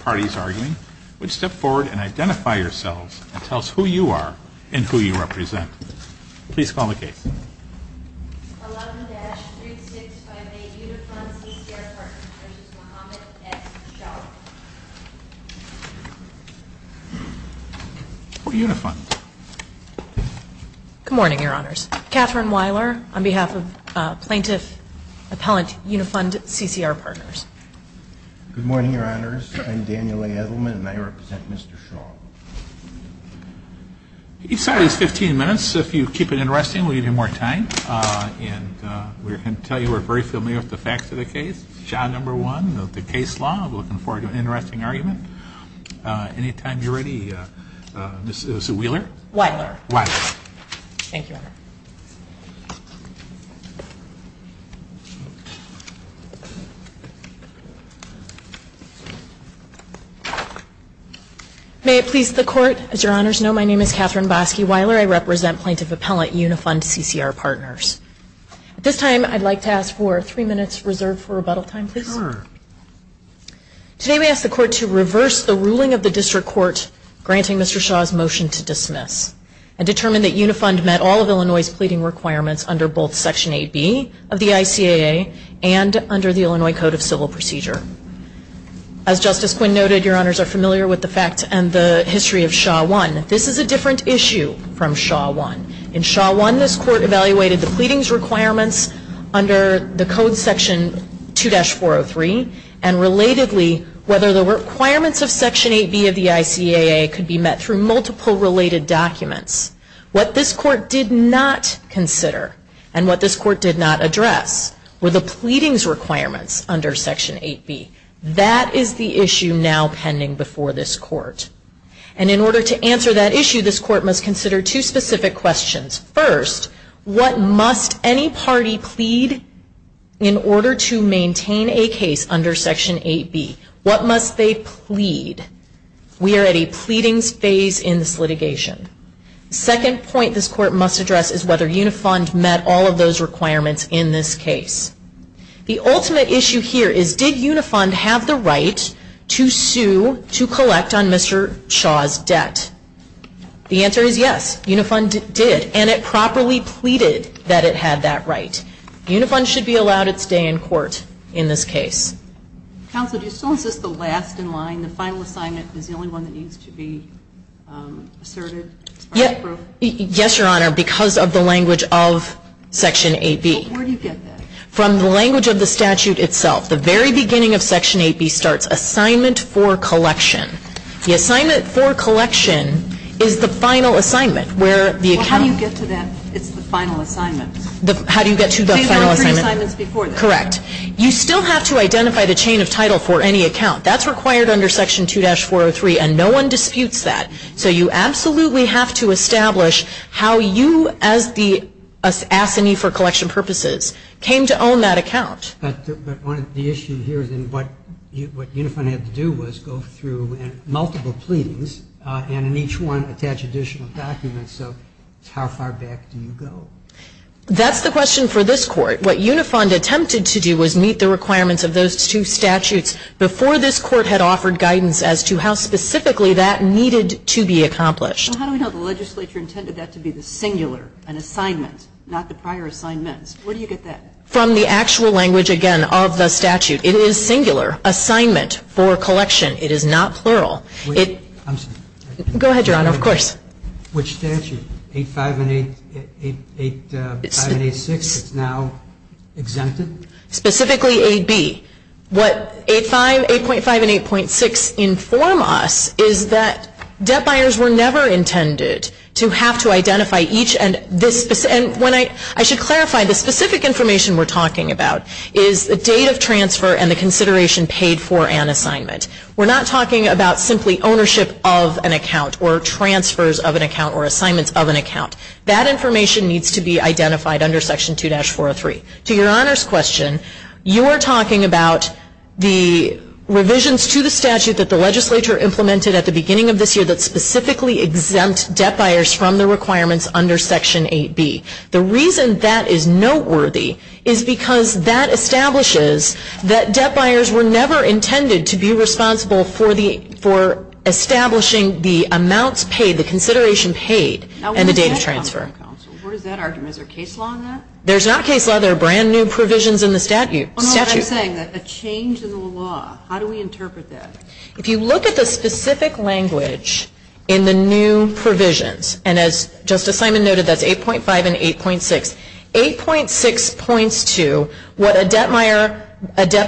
Parties arguing, would step forward and identify yourselves and tell us who you are and who you represent. Please call the case. 11-3658 Unifund CCR Partners v. Mohamed S. Shah Who are Unifund? Good morning, Your Honors. Katherine Weiler on behalf of Plaintiff Appellant Unifund CCR Partners. Good morning, Your Honors. I'm Daniel A. Edelman and I represent Mr. Shah. Each side has 15 minutes. If you keep it interesting, we'll give you more time. And we're going to tell you we're very familiar with the facts of the case. Shah, number one, the case law. I'm looking forward to an interesting argument. Any time you're ready, Mrs. Weiler. Weiler. Weiler. Thank you, Your Honor. May it please the Court. As Your Honors know, my name is Katherine Bosky Weiler. I represent Plaintiff Appellant Unifund CCR Partners. At this time, I'd like to ask for three minutes reserved for rebuttal time, please. Sure. Today we ask the Court to reverse the ruling of the District Court granting Mr. Shah's motion to dismiss and determine that Unifund met all of Illinois' pleading requirements under both Section 8B of the ICAA and under the Illinois Code of Civil Procedure. As Justice Quinn noted, Your Honors are familiar with the facts and the history of Shah 1. This is a different issue from Shah 1. In Shah 1, this Court evaluated the pleadings requirements under the Code Section 2-403 and, relatedly, whether the requirements of Section 8B of the ICAA could be met through multiple related documents. What this Court did not consider and what this Court did not address were the pleadings requirements under Section 8B. That is the issue now pending before this Court. And in order to answer that issue, this Court must consider two specific questions. First, what must any party plead in order to maintain a case under Section 8B? What must they plead? We are at a pleadings phase in this litigation. The second point this Court must address is whether Unifund met all of those requirements in this case. The ultimate issue here is did Unifund have the right to sue to collect on Mr. Shah's debt? The answer is yes, Unifund did. And it properly pleaded that it had that right. Unifund should be allowed its day in court in this case. Counsel, do you still insist the last in line, the final assignment, is the only one that needs to be asserted? Yes, Your Honor, because of the language of Section 8B. Where do you get that? From the language of the statute itself. The very beginning of Section 8B starts, Assignment for Collection. The Assignment for Collection is the final assignment where the account Well, how do you get to that? It's the final assignment. How do you get to the final assignment? There were three assignments before this. Correct. You still have to identify the chain of title for any account. That's required under Section 2-403, and no one disputes that. So you absolutely have to establish how you, as the assignee for collection purposes, came to own that account. But the issue here is what Unifund had to do was go through multiple pleadings, and in each one attach additional documents. So how far back do you go? That's the question for this Court. What Unifund attempted to do was meet the requirements of those two statutes before this Court had offered guidance as to how specifically that needed to be accomplished. Well, how do we know the legislature intended that to be the singular, an assignment, not the prior assignments? Where do you get that? From the actual language, again, of the statute. It is singular, assignment for collection. It is not plural. I'm sorry. Go ahead, Your Honor, of course. Which statute, 8.5 and 8.6, it's now exempted? Specifically 8B. What 8.5 and 8.6 inform us is that debt buyers were never intended to have to identify each. I should clarify, the specific information we're talking about is the date of transfer and the consideration paid for an assignment. We're not talking about simply ownership of an account or transfers of an account or assignments of an account. That information needs to be identified under Section 2-403. To Your Honor's question, you are talking about the revisions to the statute that the legislature implemented at the beginning of this year that specifically exempt debt buyers from the requirements under Section 8B. The reason that is noteworthy is because that establishes that debt buyers were never intended to be responsible for establishing the amounts paid, the consideration paid, and the date of transfer. What is that argument? Is there case law in that? There's not case law. There are brand new provisions in the statute. What I'm saying, a change in the law, how do we interpret that? If you look at the specific language in the new provisions, and as Justice Simon noted, that's 8.5 and 8.6, 8.6 points to what a debt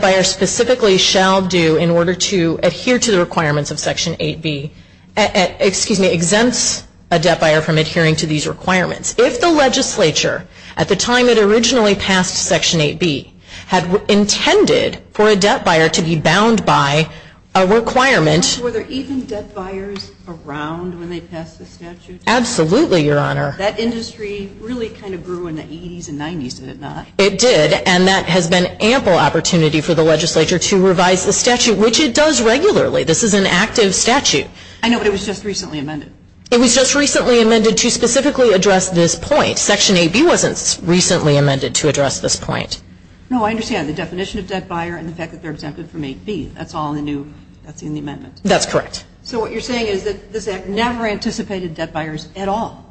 buyer specifically shall do in order to adhere to the requirements of Section 8B, excuse me, exempts a debt buyer from adhering to these requirements. If the legislature, at the time it originally passed Section 8B, had intended for a debt buyer to be bound by a requirement. Were there even debt buyers around when they passed the statute? Absolutely, Your Honor. That industry really kind of grew in the 80s and 90s, did it not? It did, and that has been ample opportunity for the legislature to revise the statute, which it does regularly. This is an active statute. I know, but it was just recently amended. It was just recently amended to specifically address this point. Section 8B wasn't recently amended to address this point. No, I understand. The definition of debt buyer and the fact that they're exempted from 8B, that's all in the new, that's in the amendment. That's correct. So what you're saying is that this Act never anticipated debt buyers at all?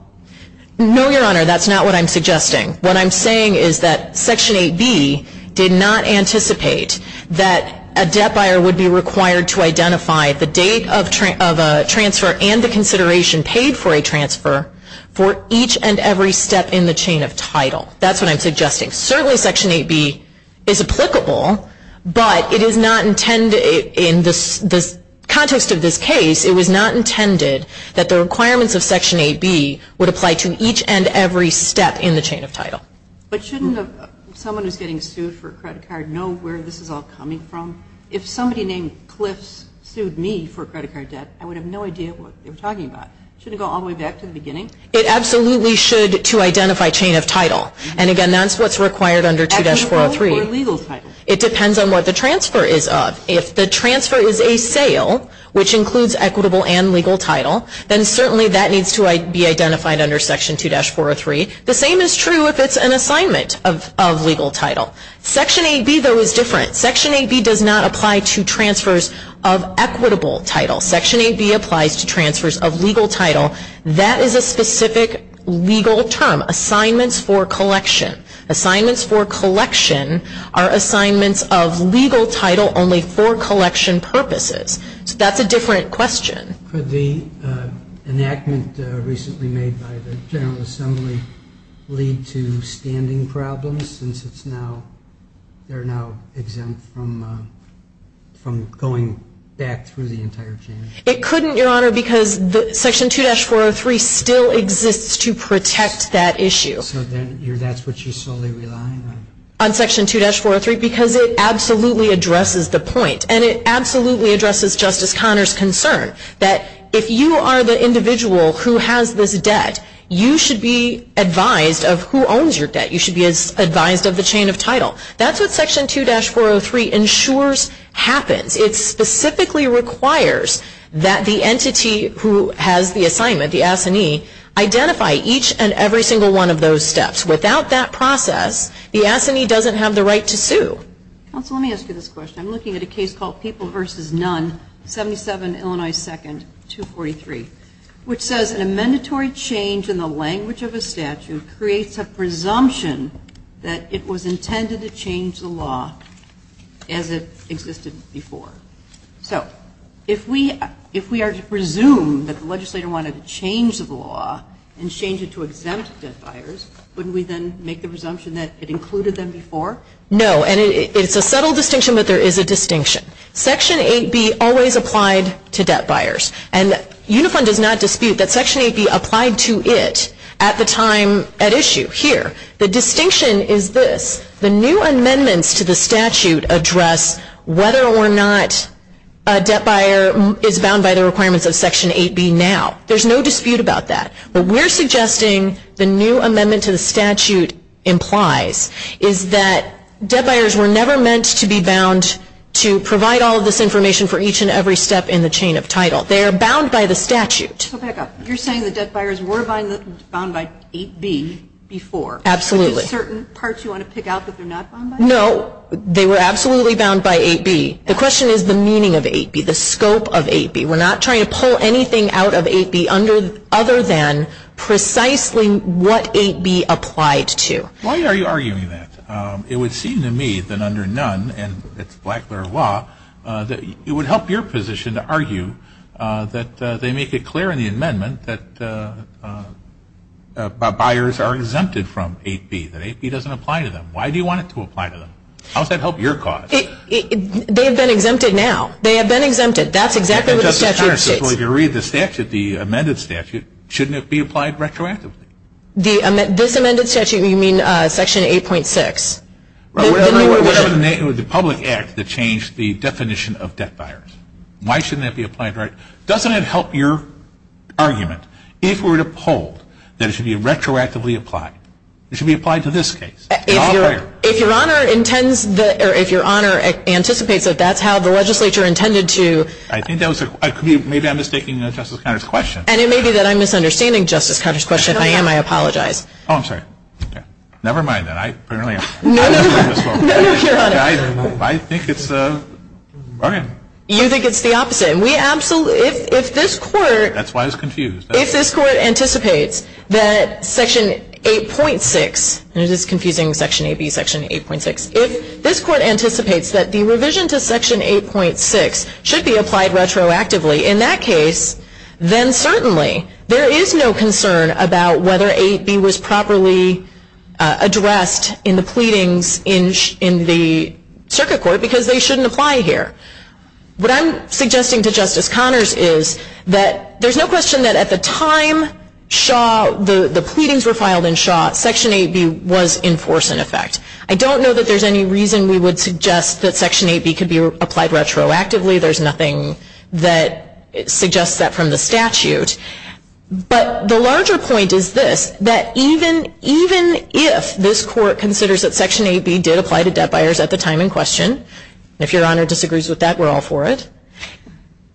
No, Your Honor, that's not what I'm suggesting. What I'm saying is that Section 8B did not anticipate that a debt buyer would be required to identify the date of a transfer and the consideration paid for a transfer for each and every step in the chain of title. That's what I'm suggesting. Certainly Section 8B is applicable, but it is not intended, in the context of this case, it was not intended that the requirements of Section 8B would apply to each and every step in the chain of title. But shouldn't someone who's getting sued for a credit card know where this is all coming from? If somebody named Cliffs sued me for a credit card debt, I would have no idea what they were talking about. Shouldn't it go all the way back to the beginning? It absolutely should to identify chain of title. And, again, that's what's required under 2-403. Equitable or legal title? It depends on what the transfer is of. If the transfer is a sale, which includes equitable and legal title, then certainly that needs to be identified under Section 2-403. The same is true if it's an assignment of legal title. Section 8B, though, is different. Section 8B does not apply to transfers of equitable title. Section 8B applies to transfers of legal title. That is a specific legal term, assignments for collection. Assignments for collection are assignments of legal title only for collection purposes. So that's a different question. Could the enactment recently made by the General Assembly lead to standing problems since they're now exempt from going back through the entire chain? It couldn't, Your Honor, because Section 2-403 still exists to protect that issue. So that's what you're solely relying on? On Section 2-403 because it absolutely addresses the point and it absolutely addresses Justice Conner's concern that if you are the individual who has this debt, you should be advised of who owns your debt. You should be advised of the chain of title. That's what Section 2-403 ensures happens. It specifically requires that the entity who has the assignment, the assignee, identify each and every single one of those steps. Without that process, the assignee doesn't have the right to sue. Counsel, let me ask you this question. I'm looking at a case called People v. None, 77 Illinois 2nd, 243, which says an amendatory change in the language of a statute creates a presumption that it was intended to change the law as it existed before. So if we are to presume that the legislator wanted to change the law and change it to exempt debt buyers, wouldn't we then make the presumption that it included them before? No, and it's a subtle distinction, but there is a distinction. Section 8B always applied to debt buyers, and Unifron does not dispute that Section 8B applied to it at the time at issue here. The distinction is this. The new amendments to the statute address whether or not a debt buyer is bound by the requirements of Section 8B now. There's no dispute about that. What we're suggesting the new amendment to the statute implies is that debt buyers were never meant to be bound to provide all of this information for each and every step in the chain of title. They are bound by the statute. Go back up. You're saying that debt buyers were bound by 8B before. Absolutely. Are there certain parts you want to pick out that they're not bound by? No, they were absolutely bound by 8B. The question is the meaning of 8B, the scope of 8B. We're not trying to pull anything out of 8B other than precisely what 8B applied to. Why are you arguing that? It would seem to me that under Nunn and its Blacklear law, it would help your position to argue that they make it clear in the amendment that buyers are exempted from 8B, that 8B doesn't apply to them. Why do you want it to apply to them? How does that help your cause? They have been exempted now. They have been exempted. That's exactly what the statute states. Justice Connors, if we were to read the statute, the amended statute, shouldn't it be applied retroactively? This amended statute, you mean Section 8.6? The public act that changed the definition of debt buyers. Why shouldn't that be applied retroactively? Doesn't it help your argument if we were to poll that it should be retroactively applied? It should be applied to this case. If Your Honor anticipates that that's how the legislature intended to... Maybe I'm mistaking Justice Connors' question. And it may be that I'm misunderstanding Justice Connors' question. If I am, I apologize. Oh, I'm sorry. Never mind that. No, no, Your Honor. I think it's... You think it's the opposite. If this Court... That's why it's confused. If this Court anticipates that Section 8.6, and it is confusing Section 8B, Section 8.6, if this Court anticipates that the revision to Section 8.6 should be applied retroactively, in that case, then certainly there is no concern about whether 8B was properly addressed in the pleadings in the circuit court because they shouldn't apply here. What I'm suggesting to Justice Connors is that there's no question that at the time the pleadings were filed in Shaw, Section 8B was in force, in effect. I don't know that there's any reason we would suggest that Section 8B could be applied retroactively. There's nothing that suggests that from the statute. But the larger point is this, that even if this Court considers that Section 8B did apply to debt buyers at the time in question, if Your Honor disagrees with that, we're all for it,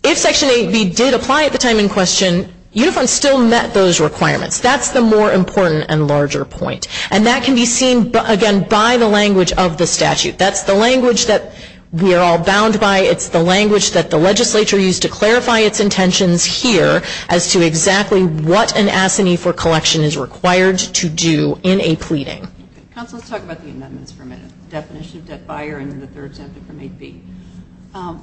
if Section 8B did apply at the time in question, Uniform still met those requirements. That's the more important and larger point. And that can be seen, again, by the language of the statute. That's the language that we are all bound by. It's the language that the legislature used to clarify its intentions here as to exactly what an assignee for collection is required to do in a pleading. Counsel, let's talk about the amendments for a minute, the definition of debt buyer and that they're exempted from 8B.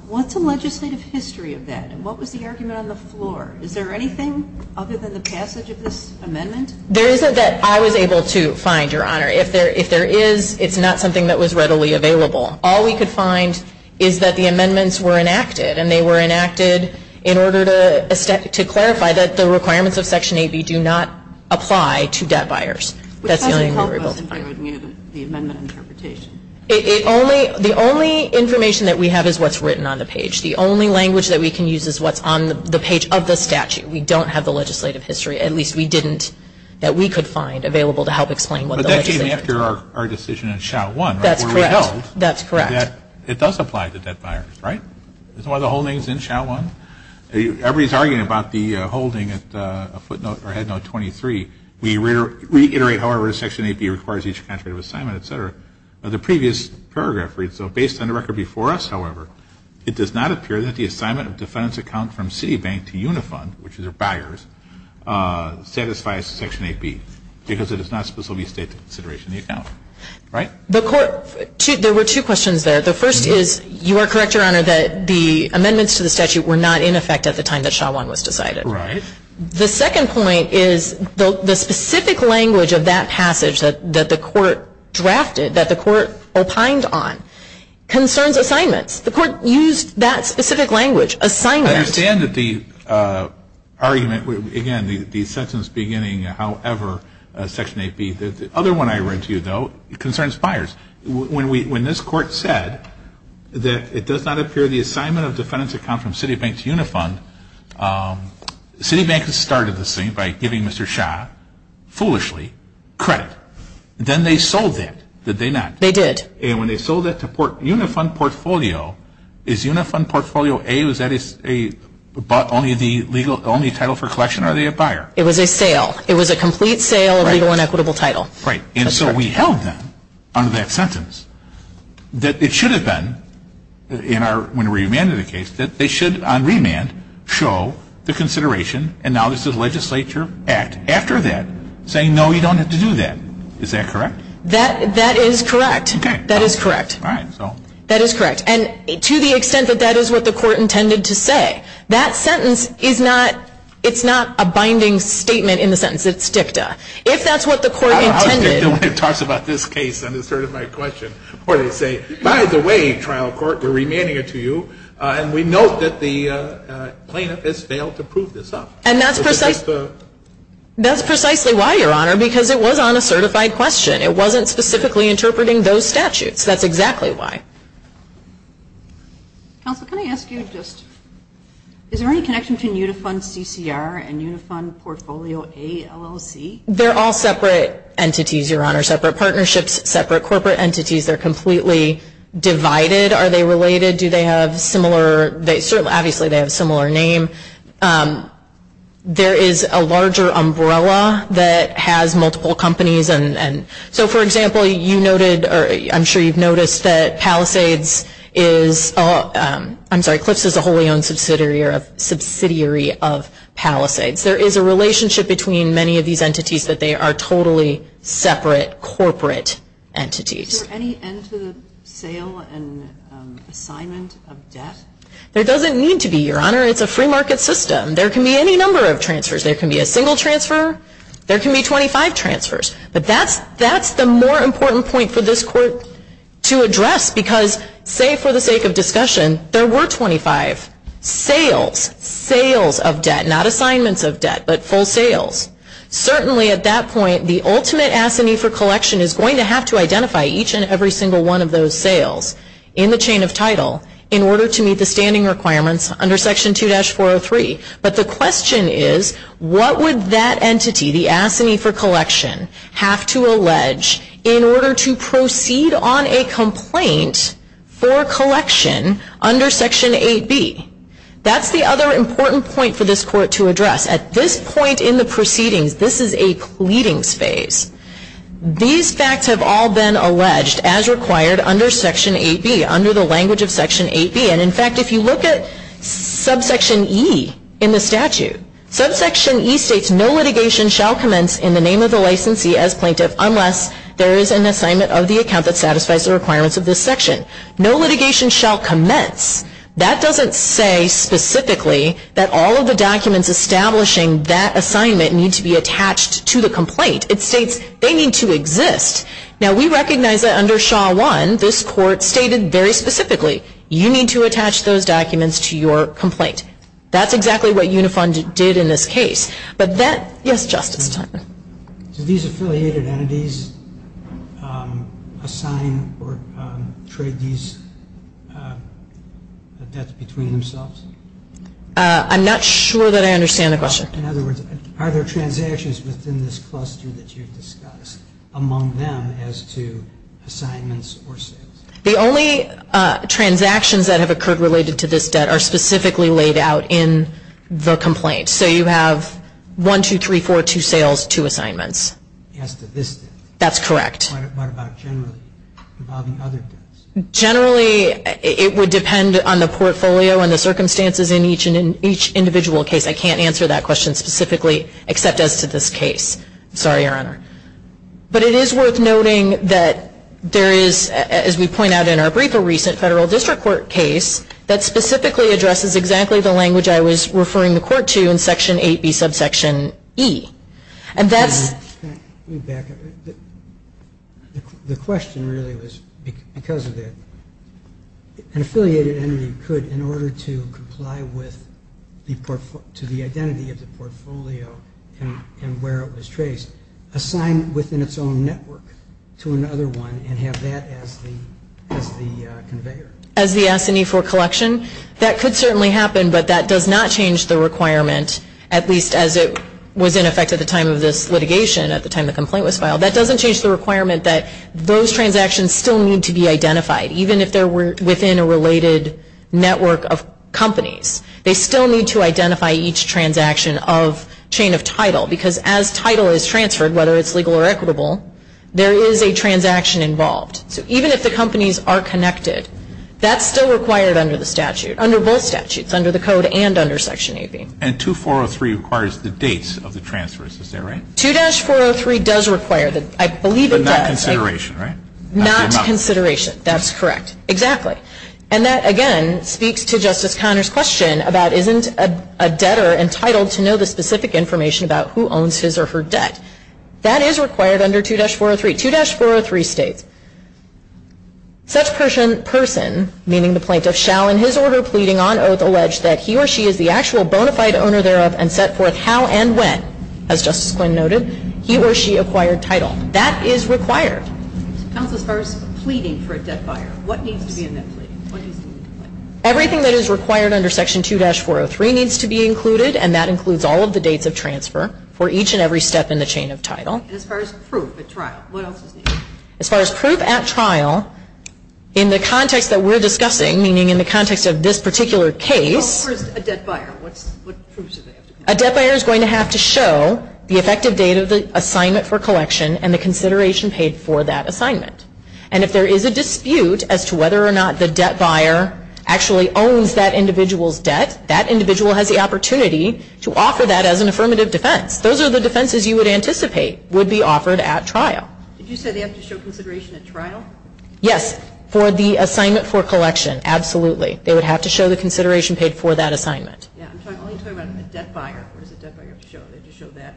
What's the legislative history of that? And what was the argument on the floor? Is there anything other than the passage of this amendment? There isn't that I was able to find, Your Honor. If there is, it's not something that was readily available. All we could find is that the amendments were enacted, and they were enacted in order to clarify that the requirements of Section 8B do not apply to debt buyers. That's the only thing we were able to find. Which doesn't help us in figuring out the amendment interpretation. The only information that we have is what's written on the page. The only language that we can use is what's on the page of the statute. We don't have the legislative history, at least we didn't, that we could find available to help explain what the legislature did. But that came after our decision in SHOW 1. That's correct. That's correct. That it does apply to debt buyers, right? Isn't that why the whole thing is in SHOW 1? Everybody is arguing about the holding at footnote or headnote 23. We reiterate, however, Section 8B requires each country of assignment, et cetera. The previous paragraph reads, so based on the record before us, however, it does not appear that the assignment of defendant's account from Citibank to Unifund, which is their buyers, satisfies Section 8B because it does not specifically state the consideration of the account. Right? The Court, there were two questions there. The first is you are correct, Your Honor, that the amendments to the statute were not in effect at the time that SHOW 1 was decided. Right. The second point is the specific language of that passage that the Court drafted, that the Court opined on, concerns assignments. The Court used that specific language, assignment. I understand that the argument, again, the sentence beginning, however, Section 8B. The other one I read to you, though, concerns buyers. When this Court said that it does not appear the assignment of defendant's account from Citibank to Unifund, Citibank started this thing by giving Mr. Shah, foolishly, credit. Then they sold that, did they not? They did. And when they sold that to Unifund Portfolio, is Unifund Portfolio A, is that only the title for collection, or are they a buyer? It was a sale. It was a complete sale of legal and equitable title. Right. And so we held them, under that sentence, that it should have been, when we remanded the case, that they should, on remand, show the consideration, and now this is a legislature act, after that, saying, no, you don't have to do that. Is that correct? That is correct. That is correct. All right. That is correct. And to the extent that that is what the Court intended to say, that sentence is not, it's not a binding statement in the sentence. It's dicta. If that's what the Court intended. I was dicta when it talks about this case on a certified question, where they say, by the way, trial court, we're remanding it to you, and we note that the plaintiff has failed to prove this up. And that's precisely why, Your Honor, because it was on a certified question. It wasn't specifically interpreting those statutes. That's exactly why. Counsel, can I ask you just, is there any connection between Unifund CCR and Unifund Portfolio ALLC? They're all separate entities, Your Honor, separate partnerships, separate corporate entities. They're completely divided. Are they related? Do they have similar, they certainly, obviously, they have a similar name. There is a larger umbrella that has multiple companies, and so, for example, you noted, or I'm sure you've noticed that Palisades is, I'm sorry, CLPS is a wholly owned subsidiary of Palisades. There is a relationship between many of these entities that they are totally separate corporate entities. Is there any end to the sale and assignment of debt? There doesn't need to be, Your Honor. It's a free market system. There can be any number of transfers. There can be a single transfer. There can be 25 transfers. But that's the more important point for this Court to address because, say, for the sake of discussion, there were 25 sales, sales of debt, not assignments of debt, but full sales. Certainly, at that point, the ultimate assignee for collection is going to have to identify each and every single one of those sales in the chain of title in order to meet the standing requirements under Section 2-403. But the question is, what would that entity, the assignee for collection, have to allege in order to proceed on a complaint for collection under Section 8B? That's the other important point for this Court to address. At this point in the proceedings, this is a pleadings phase. These facts have all been alleged, as required, under Section 8B, under the language of Section 8B. And, in fact, if you look at subsection E in the statute, subsection E states, no litigation shall commence in the name of the licensee as plaintiff unless there is an assignment of the account that satisfies the requirements of this section. No litigation shall commence. That doesn't say specifically that all of the documents establishing that assignment need to be attached to the complaint. It states they need to exist. Now, we recognize that under Shaw 1, this Court stated very specifically, you need to attach those documents to your complaint. That's exactly what Unifund did in this case. But that, yes, Justice? Do these affiliated entities assign or trade these debts between themselves? I'm not sure that I understand the question. In other words, are there transactions within this cluster that you've discussed among them as to assignments or sales? The only transactions that have occurred related to this debt are specifically laid out in the complaint. So you have one, two, three, four, two sales, two assignments. As to this debt? That's correct. What about generally? What about the other debts? Generally, it would depend on the portfolio and the circumstances in each individual case. I can't answer that question specifically except as to this case. Sorry, Your Honor. But it is worth noting that there is, as we point out in our brief, a recent Federal District Court case that specifically addresses exactly the language I was referring the Court to in Section 8B, Subsection E. And that's... Let me back up. The question really was because of that. An affiliated entity could, in order to comply with the identity of the transaction, assign within its own network to another one and have that as the conveyor. As the S&E for collection? That could certainly happen, but that does not change the requirement, at least as it was in effect at the time of this litigation, at the time the complaint was filed. That doesn't change the requirement that those transactions still need to be identified, even if they're within a related network of companies. They still need to identify each transaction of chain of title, because as title is transferred, whether it's legal or equitable, there is a transaction involved. So even if the companies are connected, that's still required under the statute, under both statutes, under the Code and under Section 8B. And 2403 requires the dates of the transfers. Is that right? 2-403 does require that. I believe it does. But not consideration, right? Not consideration. That's correct. Exactly. And that, again, speaks to Justice Conner's question about isn't a debtor entitled to know the specific information about who owns his or her debt. That is required under 2-403. 2-403 states, such person, meaning the plaintiff, shall in his or her pleading on oath allege that he or she is the actual bona fide owner thereof and set forth how and when, as Justice Quinn noted, he or she acquired title. That is required. Counsel, as far as pleading for a debt buyer, what needs to be in that plea? What needs to be included? Everything that is required under Section 2-403 needs to be included, and that includes all of the dates of transfer for each and every step in the chain of title. And as far as proof at trial, what else is needed? As far as proof at trial, in the context that we're discussing, meaning in the context of this particular case. Where's a debt buyer? What proofs do they have to show? A debt buyer is going to have to show the effective date of the assignment for collection and the consideration paid for that assignment. And if there is a dispute as to whether or not the debt buyer actually owns that individual's debt, that individual has the opportunity to offer that as an affirmative defense. Those are the defenses you would anticipate would be offered at trial. Did you say they have to show consideration at trial? Yes, for the assignment for collection, absolutely. They would have to show the consideration paid for that assignment. Yeah, I'm only talking about a debt buyer. What does a debt buyer have to show? They just show that.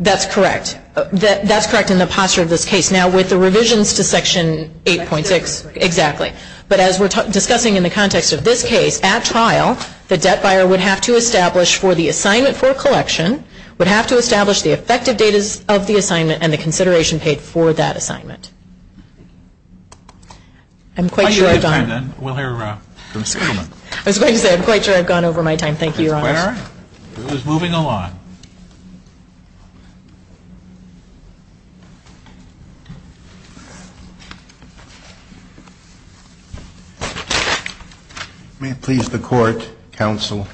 That's correct. That's correct in the posture of this case. Now, with the revisions to Section 8.6, exactly. But as we're discussing in the context of this case, at trial, the debt buyer would have to establish for the assignment for collection, would have to establish the effective date of the assignment and the consideration paid for that assignment. I'm quite sure I've gone over my time. Thank you, Your Honors. It is moving along. May it please the Court, Counsel.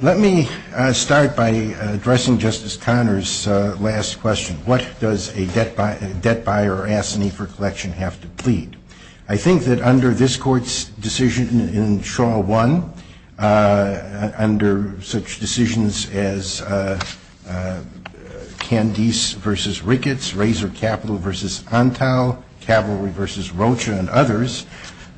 Let me start by addressing Justice Conner's last question. What does a debt buyer ask an eighfer collection have to plead? I think that under this Court's decision in Shaw 1, under such decisions as Candice v. Ricketts, Razor Capital v. Ontow, Cavalry v. Rocha, and others,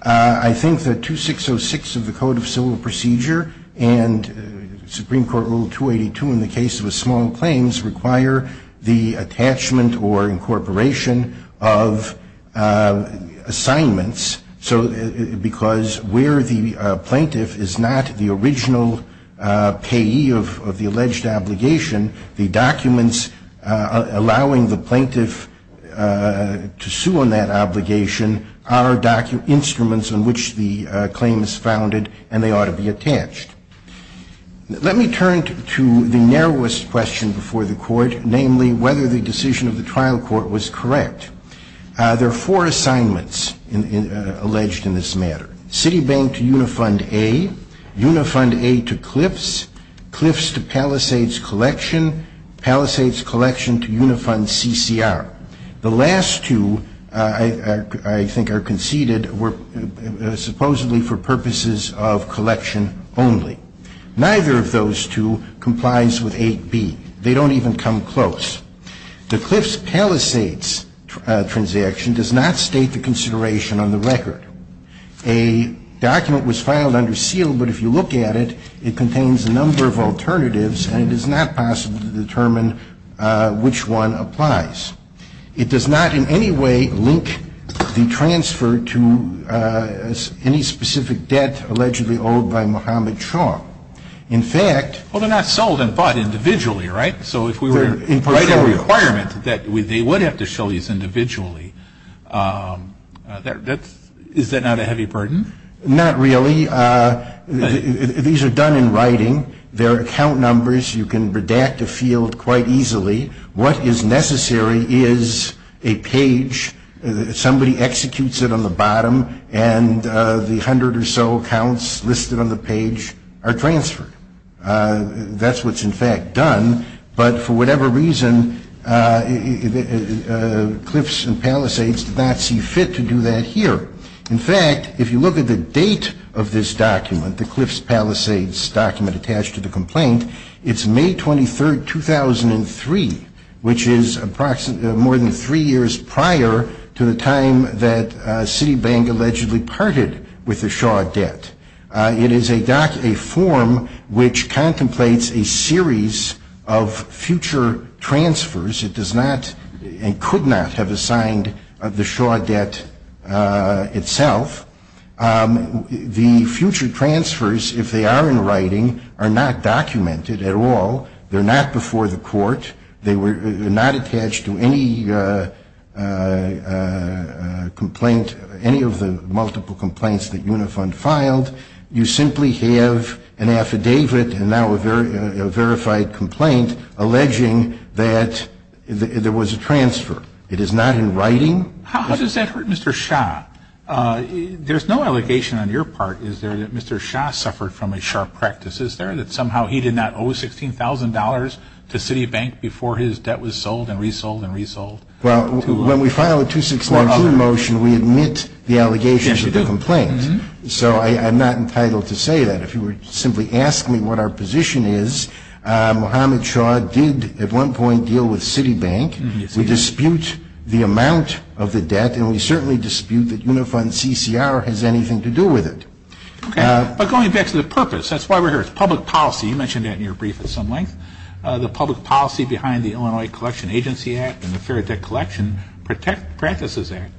I think that 2606 of the Code of Civil Procedure and Supreme Court Rule 282 in the case of a small claims require the attachment or incorporation of assignments. So because where the plaintiff is not the original payee of the alleged obligation, the documents allowing the plaintiff to sue on that obligation are documents, instruments on which the claim is founded, and they ought to be attached. Let me turn to the narrowest question before the Court, namely, whether the decision of the trial court was correct. There are four assignments alleged in this matter. Citibank to Unifund A, Unifund A to Cliffs, Cliffs to Palisades Collection, Palisades Collection to Unifund CCR. The last two, I think, are conceded supposedly for purposes of collection only. Neither of those two complies with 8b. They don't even come close. The Cliffs-Palisades transaction does not state the consideration on the record. A document was filed under seal, but if you look at it, it contains a number of alternatives, and it is not possible to determine which one applies. It does not in any way link the transfer to any specific debt allegedly owed by Muhammad Shah. In fact — Well, they're not sold and bought individually, right? So if we were to write a requirement that they would have to show these individually, is that not a heavy burden? Not really. These are done in writing. There are account numbers. You can redact a field quite easily. What is necessary is a page. Somebody executes it on the bottom, and the hundred or so accounts listed on the page are transferred. That's what's in fact done, but for whatever reason, Cliffs and Palisades did not see fit to do that here. In fact, if you look at the date of this document, the Cliffs-Palisades document attached to the complaint, it's May 23rd, 2003, which is more than three years prior to the time that Citibank allegedly parted with the Shah debt. It is a form which contemplates a series of future transfers. It does not and could not have assigned the Shah debt itself. The future transfers, if they are in writing, are not documented at all. They're not before the court. They're not attached to any complaint, any of the multiple complaints that Unifund filed. You simply have an affidavit and now a verified complaint alleging that there was a transfer. It is not in writing. How does that hurt Mr. Shah? There's no allegation on your part, is there, that Mr. Shah suffered from a sharp practice, is there, that somehow he did not owe $16,000 to Citibank before his debt was sold and resold and resold? Well, when we file a 2619 motion, we admit the allegations of the complaint. Yes, you do. So I'm not entitled to say that. If you would simply ask me what our position is, Mohammed Shah did at one point deal with Citibank. We dispute the amount of the debt, and we certainly dispute that Unifund CCR has anything to do with it. Okay. But going back to the purpose, that's why we're here. It's public policy. You mentioned that in your brief at some length. The public policy behind the Illinois Collection Agency Act and the Fair Debt Collection Practices Act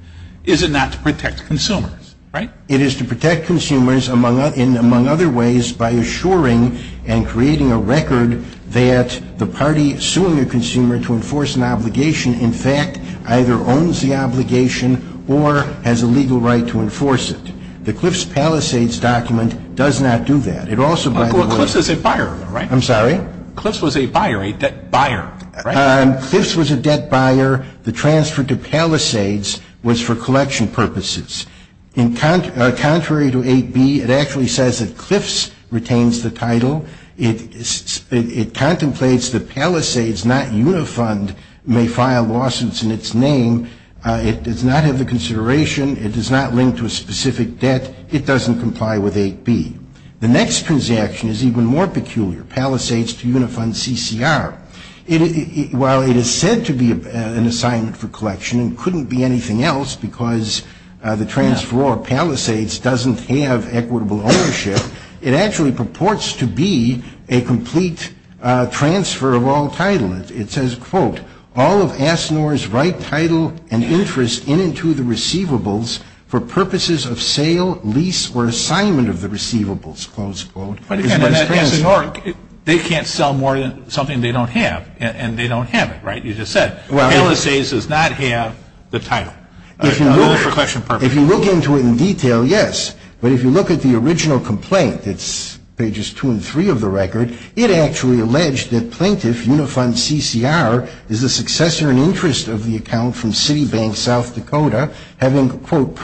is not to protect consumers, right? It is to protect consumers, among other ways, by assuring and creating a record that the party suing a consumer to enforce an obligation, in fact, either owns the obligation or has a legal right to enforce it. The Cliffs Palisades document does not do that. It also, by the way — Well, Cliffs is a buyer, right? I'm sorry? Cliffs was a buyer, a debt buyer, right? Cliffs was a debt buyer. The transfer to Palisades was for collection purposes. Contrary to 8B, it actually says that Cliffs retains the title. It contemplates that Palisades, not Unifund, may file lawsuits in its name. It does not have the consideration. It does not link to a specific debt. It doesn't comply with 8B. The next transaction is even more peculiar, Palisades to Unifund CCR. While it is said to be an assignment for collection and couldn't be anything else because the transferor of Palisades doesn't have equitable ownership, it actually purports to be a complete transfer of all title. It says, quote, All of ASNOR's right title and interest in and to the receivables for purposes of sale, lease, or assignment of the receivables, close quote. They can't sell more than something they don't have, and they don't have it, right? You just said, Palisades does not have the title. If you look into it in detail, yes. But if you look at the original complaint, it's pages 2 and 3 of the record, it actually alleged that plaintiff Unifund CCR is the successor and interest of the account from Citibank South Dakota, having, quote,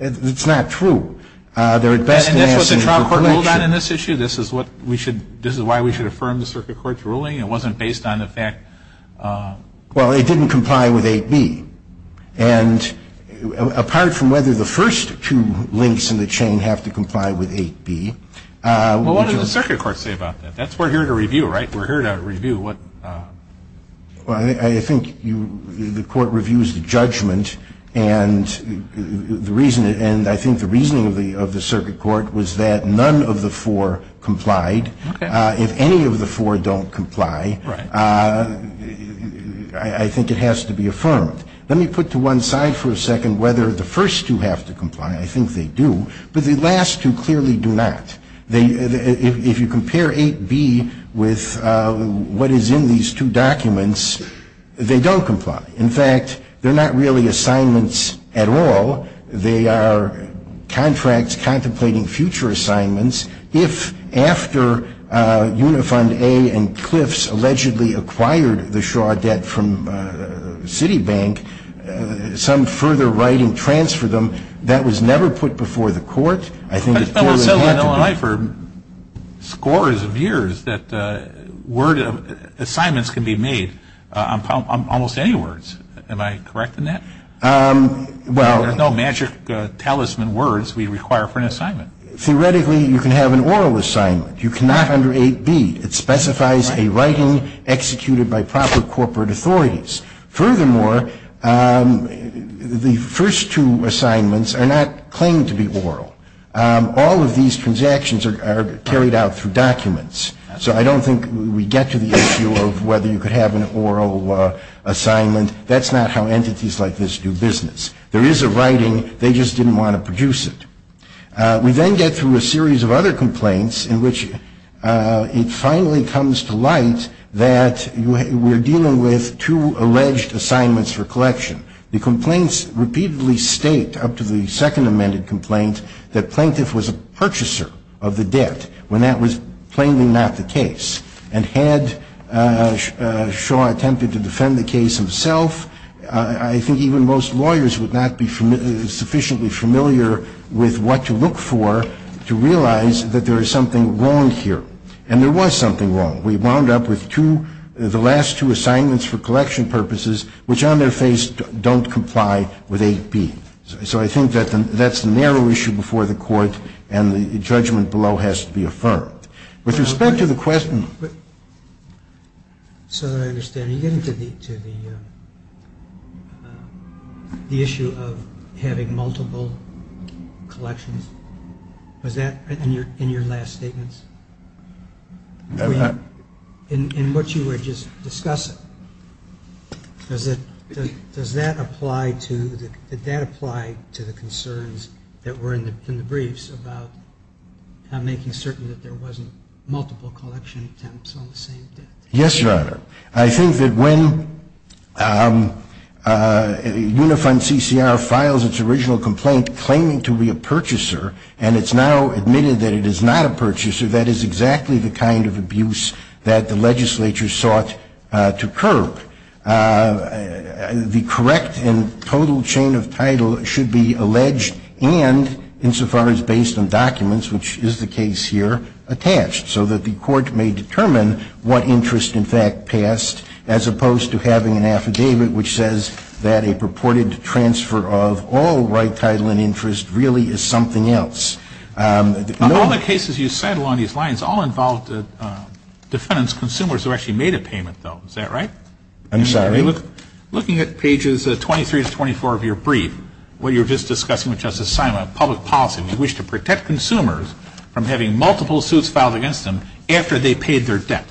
It's not true. They're at best asking for collection. And that's what the trial court ruled on in this issue? This is why we should affirm the circuit court's ruling? It wasn't based on the fact? Well, it didn't comply with 8B. And apart from whether the first two links in the chain have to comply with 8B. Well, what did the circuit court say about that? That's what we're here to review, right? We're here to review what? Well, I think the court reviews the judgment, and I think the reasoning of the circuit court was that none of the four complied. If any of the four don't comply, I think it has to be affirmed. Let me put to one side for a second whether the first two have to comply. I think they do. But the last two clearly do not. If you compare 8B with what is in these two documents, they don't comply. In fact, they're not really assignments at all. They are contracts contemplating future assignments. If after Unifund A and Cliffs allegedly acquired the Shaw debt from Citibank, some further writing transferred them, that was never put before the court. I think the court would have to go. But it's been said on LMI for scores of years that assignments can be made on almost any words. Am I correct in that? There's no magic talisman words we require for an assignment. Theoretically, you can have an oral assignment. You cannot under 8B. It specifies a writing executed by proper corporate authorities. Furthermore, the first two assignments are not claimed to be oral. All of these transactions are carried out through documents. So I don't think we get to the issue of whether you could have an oral assignment. That's not how entities like this do business. There is a writing. They just didn't want to produce it. We then get through a series of other complaints in which it finally comes to light that we're dealing with two alleged assignments for collection. The complaints repeatedly state, up to the second amended complaint, that plaintiff was a purchaser of the debt when that was plainly not the case. And had Shaw attempted to defend the case himself, I think even most lawyers would not be sufficiently familiar with what to look for to realize that there is something wrong here. And there was something wrong. We wound up with the last two assignments for collection purposes, which on their face don't comply with 8B. So I think that's the narrow issue before the court, and the judgment below has to be affirmed. With respect to the question. So that I understand, are you getting to the issue of having multiple collections? Was that in your last statements? In what you were just discussing, does that apply to the concerns that were in the briefs about making certain that there wasn't multiple collection attempts on the same debt? Yes, Your Honor. I think that when Unifund CCR files its original complaint claiming to be a purchaser, and it's now admitted that it is not a purchaser, that is exactly the kind of abuse that the legislature sought to curb. The correct and total chain of title should be alleged and, insofar as based on documents, which is the case here, attached. So that the court may determine what interest, in fact, passed, as opposed to having an affidavit which says that a purported transfer of all right title and interest really is something else. All the cases you said along these lines all involved defendants, consumers who actually made a payment, though. Is that right? I'm sorry? Looking at pages 23 to 24 of your brief, what you were just discussing with Justice Simon, public policy, we wish to protect consumers from having multiple suits filed against them after they paid their debt.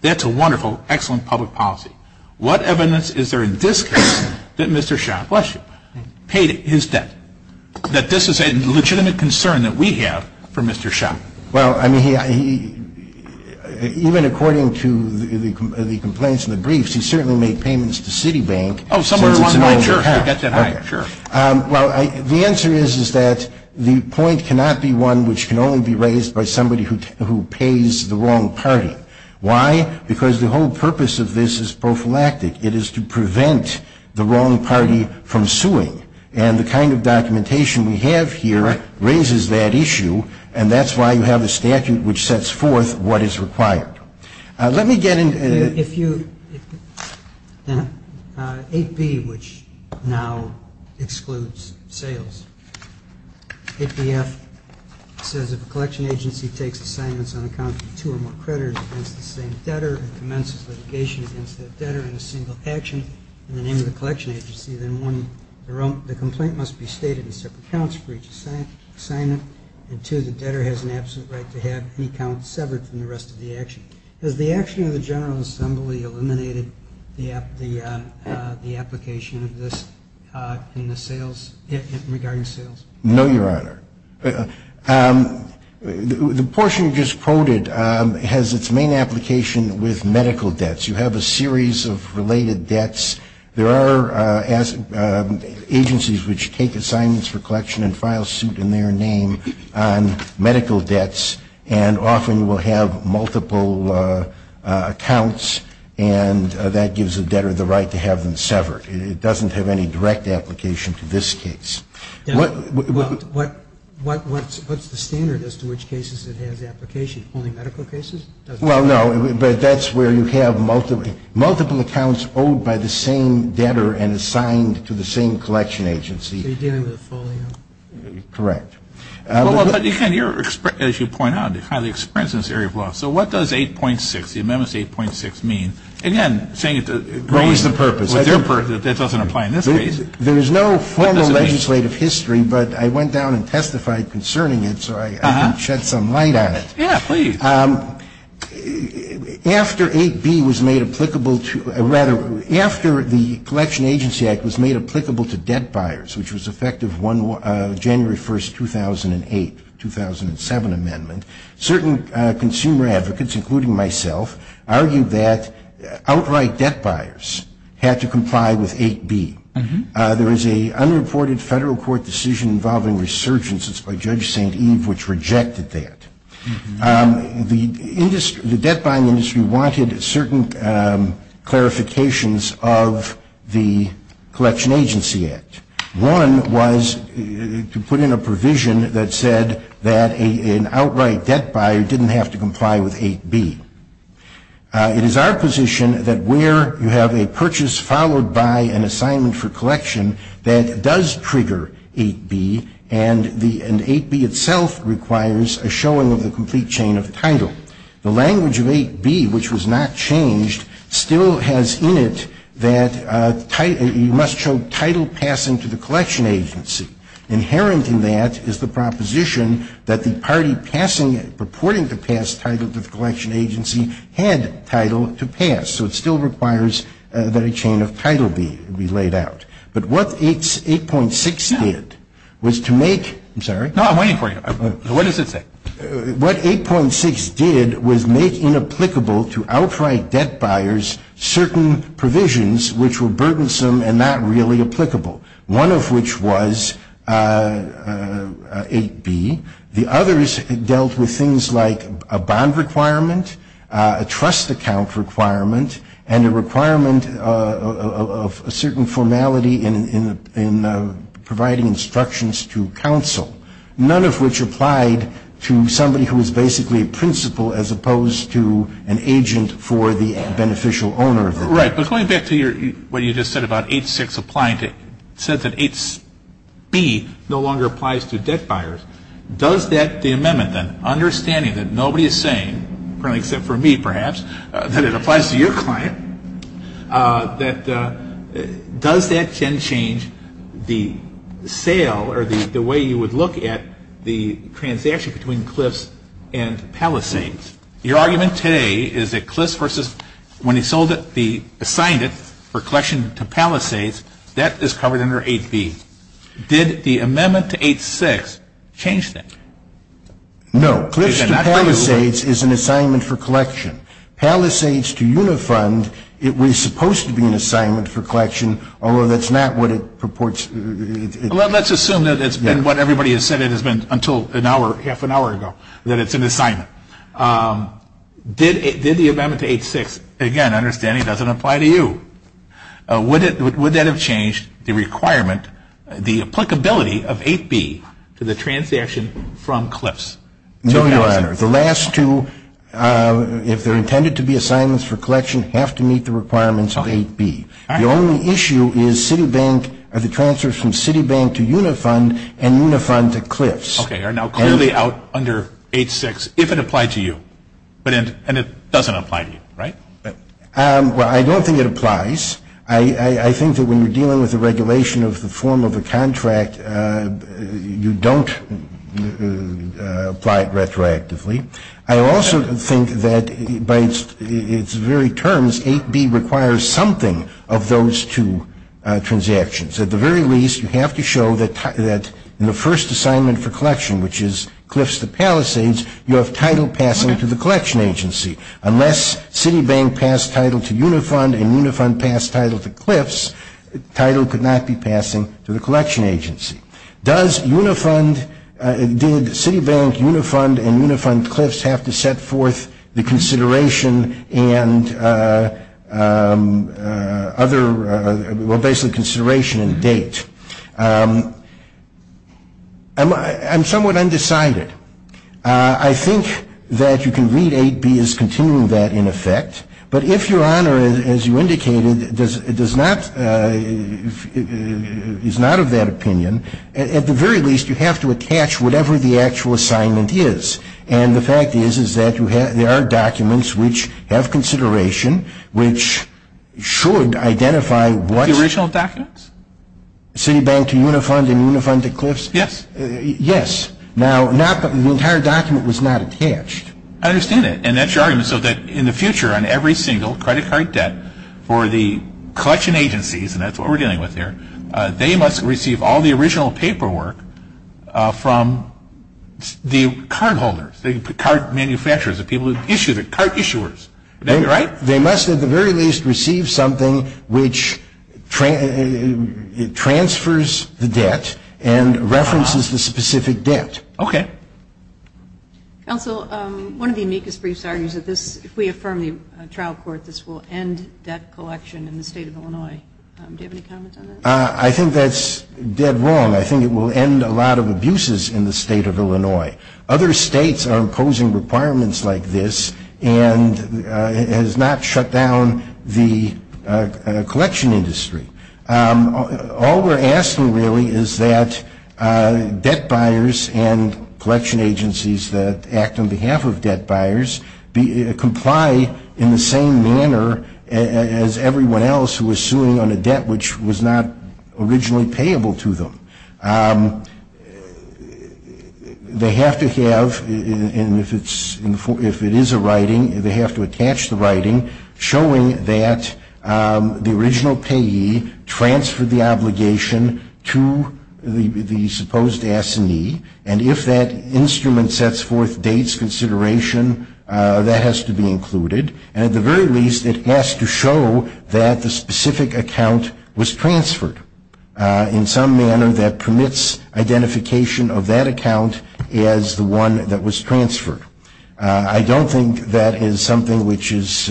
That's a wonderful, excellent public policy. What evidence is there in this case that Mr. Schott paid his debt, that this is a legitimate concern that we have for Mr. Schott? Well, I mean, even according to the complaints in the briefs, we certainly made payments to Citibank. Oh, somewhere along the line, sure. The answer is that the point cannot be one which can only be raised by somebody who pays the wrong party. Why? Because the whole purpose of this is prophylactic. It is to prevent the wrong party from suing. And the kind of documentation we have here raises that issue, and that's why you have a statute which sets forth what is required. Let me get into AP, which now excludes sales. APF says if a collection agency takes assignments on account of two or more creditors against the same debtor and commences litigation against that debtor in a single action in the name of the collection agency, then one, the complaint must be stated in separate counts for each assignment, and two, the debtor has an absolute right to have any count severed from the rest of the action. Has the action of the General Assembly eliminated the application of this in the sales, regarding sales? No, Your Honor. The portion you just quoted has its main application with medical debts. You have a series of related debts. There are agencies which take assignments for collection and file suit in their name on medical debts and often will have multiple accounts, and that gives the debtor the right to have them severed. It doesn't have any direct application to this case. What's the standard as to which cases it has application? Only medical cases? Well, no, but that's where you have multiple accounts owed by the same debtor and assigned to the same collection agency. So you're dealing with a full amount? Correct. Well, but again, as you point out, it's kind of the experience in this area of law. So what does 8.6, the amendments to 8.6 mean? Again, saying it to raise the purpose. That doesn't apply in this case. There is no formal legislative history, but I went down and testified concerning it, so I can shed some light on it. Yeah, please. After 8.b was made applicable to debt buyers, which was effective January 1st, 2008, 2007 amendment, certain consumer advocates, including myself, argued that outright debt buyers had to comply with 8.b. There was an unreported federal court decision involving resurgence by Judge St. Eve, which rejected that. The debt buying industry wanted certain clarifications of the Collection Agency Act. One was to put in a provision that said that an outright debt buyer didn't have to comply with 8.b. It is our position that where you have a purchase followed by an assignment for collection that does trigger 8.b, and 8.b itself requires a showing of the complete chain of title, the language of 8.b, which was not changed, still has in it that you must show title passing to the collection agency. Inherent in that is the proposition that the party purporting to pass title to the collection agency had title to pass. So it still requires that a chain of title be laid out. But what 8.6 did was to make, I'm sorry. No, I'm waiting for you. What does it say? What 8.6 did was make inapplicable to outright debt buyers certain provisions which were burdensome and not really applicable, one of which was 8.b. The others dealt with things like a bond requirement, a trust account requirement, and a requirement of a certain formality in providing instructions to counsel, none of which applied to somebody who was basically a principal as opposed to an agent for the beneficial owner. Right. But going back to what you just said about 8.6 applying to, it said that 8.b no longer applies to debt buyers. Does that, the amendment then, understanding that nobody is saying, currently except for me perhaps, that it applies to your client, that does that then change the sale or the way you would look at the transaction between CLIFS and Palisades? Your argument today is that CLIFS versus, when he sold it, he assigned it for collection to Palisades, that is covered under 8.b. Did the amendment to 8.6 change that? No. CLIFS to Palisades is an assignment for collection. Palisades to Unifund, it was supposed to be an assignment for collection, although that's not what it purports. Let's assume that it's been what everybody has said it has been until an hour, half an hour ago, that it's an assignment. Did the amendment to 8.6, again, understanding it doesn't apply to you, would that have changed the requirement, the applicability of 8.b to the transaction from CLIFS to Palisades? No, Your Honor. The last two, if they're intended to be assignments for collection, have to meet the requirements of 8.b. The only issue is Citibank, are the transfers from Citibank to Unifund and Unifund to CLIFS. Okay, are now clearly out under 8.6 if it applied to you, and it doesn't apply to you, right? Well, I don't think it applies. I think that when you're dealing with the regulation of the form of a contract, you don't apply it retroactively. I also think that by its very terms, 8.b requires something of those two transactions. At the very least, you have to show that in the first assignment for collection, which is CLIFS to Palisades, you have title passing to the collection agency. Unless Citibank passed title to Unifund and Unifund passed title to CLIFS, title could not be passing to the collection agency. Does Unifund, did Citibank, Unifund, and Unifund-CLIFS have to set forth the consideration and other, well, basically consideration and date? I'm somewhat undecided. I think that you can read 8.b as continuing that in effect, but if your honor, as you indicated, does not, is not of that opinion, at the very least, you have to attach whatever the actual assignment is. And the fact is, is that there are documents which have consideration, which should identify what- The original documents? Citibank to Unifund and Unifund to CLIFS? Yes. Yes. Now, the entire document was not attached. I understand that. And that's your argument, so that in the future, on every single credit card debt, for the collection agencies, and that's what we're dealing with here, they must receive all the original paperwork from the cardholders, the card manufacturers, the people who issue, the card issuers. Would that be right? They must, at the very least, receive something which transfers the debt and references the specific debt. Okay. Counsel, one of the amicus briefs argues that this, if we affirm the trial court, this will end debt collection in the State of Illinois. Do you have any comments on that? I think that's dead wrong. I think it will end a lot of abuses in the State of Illinois. Other states are imposing requirements like this and has not shut down the collection industry. All we're asking, really, is that debt buyers and collection agencies that act on behalf of debt buyers comply in the same manner as everyone else who is suing on a debt which was not originally payable to them. They have to have, and if it is a writing, they have to attach the writing showing that the original payee transferred the obligation to the supposed assignee, and if that instrument sets forth dates consideration, that has to be included. And at the very least, it has to show that the specific account was transferred. In some manner, that permits identification of that account as the one that was transferred. I don't think that is something which is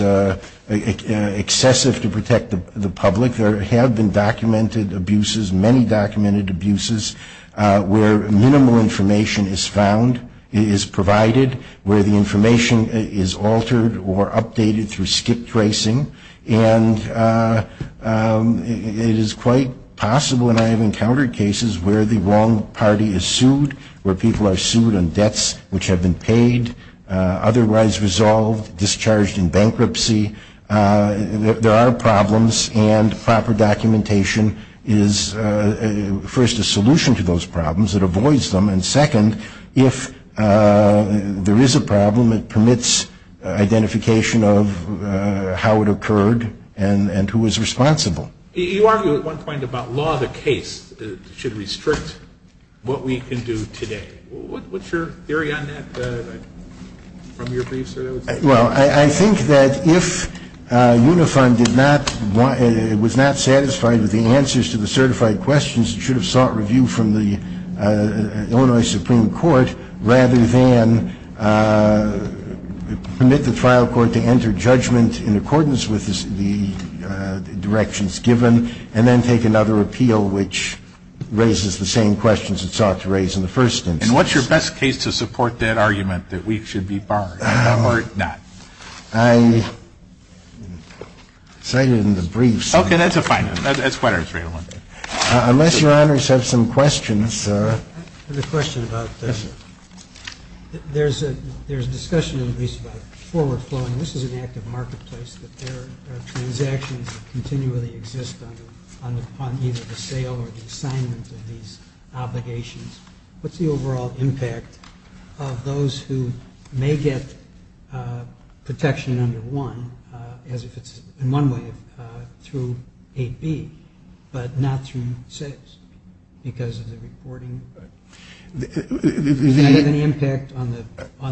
excessive to protect the public. There have been documented abuses, many documented abuses, where minimal information is found, is provided, where the information is altered or updated through skip tracing, and it is quite possible, and I have encountered cases, where the wrong party is sued, where people are sued on debts which have been paid, otherwise resolved, discharged in bankruptcy. There are problems, and proper documentation is first a solution to those problems, it avoids them, and second, if there is a problem, it permits identification of how it occurred and who was responsible. You argued at one point about law of the case should restrict what we can do today. What is your theory on that from your briefs? Well, I think that if UNIFON was not satisfied with the answers to the certified questions, it should have sought review from the Illinois Supreme Court, rather than permit the trial court to enter judgment in accordance with the directions given, and then take another appeal which raises the same questions it sought to raise in the first instance. And what is your best case to support that argument, that we should be barred or not? I cited in the briefs. Okay, that is a fine one. Unless your honors have some questions. I have a question about, there is a discussion in Greece about forward flowing. This is an active marketplace that there are transactions that continually exist on either the sale or the assignment of these obligations. What is the overall impact of those who may get protection under one, as if it is in one way through AB, but not through sales because of the reporting? Does that have any impact on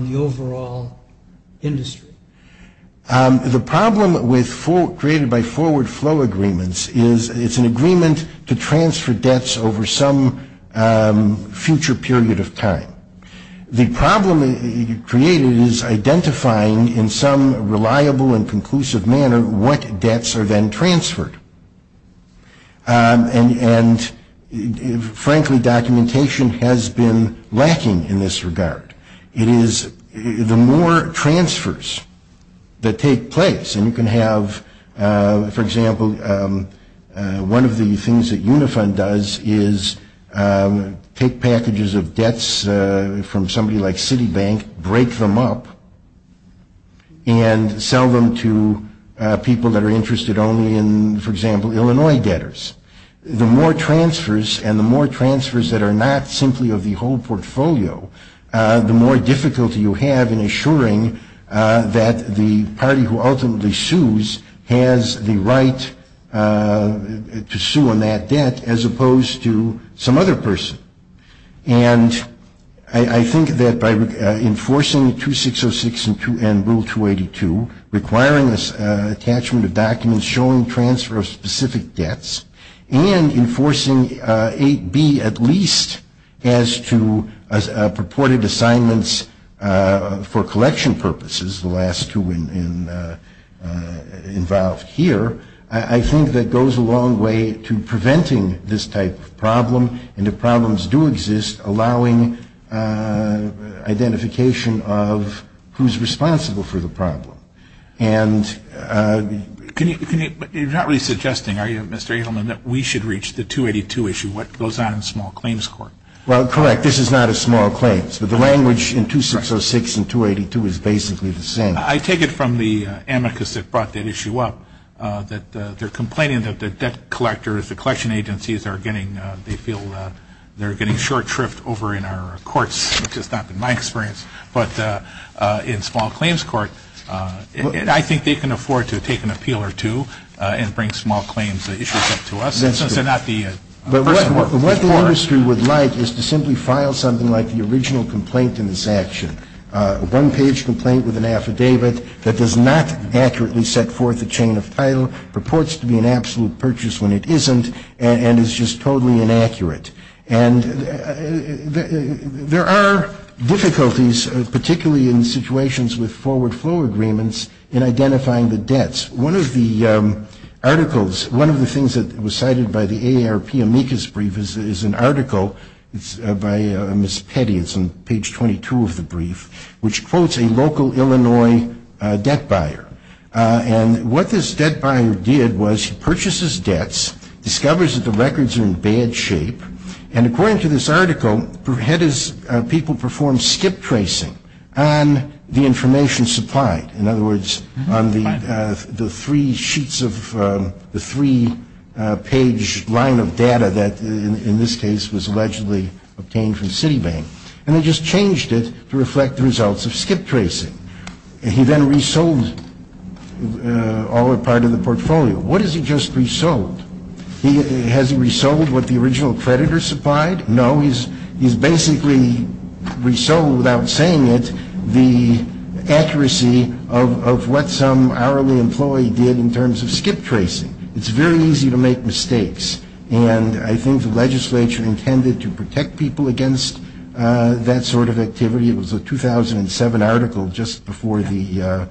the overall industry? The problem created by forward flow agreements is it is an agreement to transfer debts over some future period of time. The problem created is identifying in some reliable and conclusive manner what debts are then transferred. And frankly, documentation has been lacking in this regard. It is the more transfers that take place, and you can have, for example, one of the things that Unifund does is take packages of debts from somebody like Citibank, break them up, and sell them to people that are interested only in, for example, Illinois debtors. The more transfers, and the more transfers that are not simply of the whole portfolio, the more difficulty you have in assuring that the party who ultimately sues has the right to sue on that debt, as opposed to some other person. And I think that by enforcing 2606 and Rule 282, requiring this attachment of documents, showing transfer of specific debts, and enforcing 8B at least as to purported assignments for collection purposes, the last two involved here, I think that goes a long way to preventing this type of problem, and if problems do exist, allowing identification of who's responsible for the problem. And can you, but you're not really suggesting, are you, Mr. Edelman, that we should reach the 282 issue? What goes on in small claims court? Well, correct, this is not a small claims, but the language in 2606 and 282 is basically the same. I take it from the amicus that brought that issue up, that they're complaining that the debt collectors, the collection agencies are getting, they feel they're getting short tripped over in our courts, which has not been my experience, but in small claims court, I think they can afford to take an appeal or two and bring small claims issues up to us, since they're not the person working for us. But what the industry would like is to simply file something like the original complaint in this action, a one-page complaint with an affidavit that does not accurately set forth a chain of title, purports to be an absolute purchase when it isn't, and is just totally inaccurate. And there are difficulties, particularly in situations with forward flow agreements, in identifying the debts. One of the articles, one of the things that was cited by the AARP amicus brief is an article by Ms. Petty, it's on page 22 of the brief, which quotes a local Illinois debt buyer. And what this debt buyer did was he purchases debts, discovers that the records are in bad shape, and according to this article had his people perform skip tracing on the information supplied. In other words, on the three sheets of the three-page line of data that, in this case, was allegedly obtained from Citibank, and they just changed it to reflect the results of skip tracing. He then resold all or part of the portfolio. What has he just resold? Has he resold what the original creditor supplied? No, he's basically resold, without saying it, the accuracy of what some hourly employee did in terms of skip tracing. It's very easy to make mistakes. And I think the legislature intended to protect people against that sort of activity. It was a 2007 article, just before the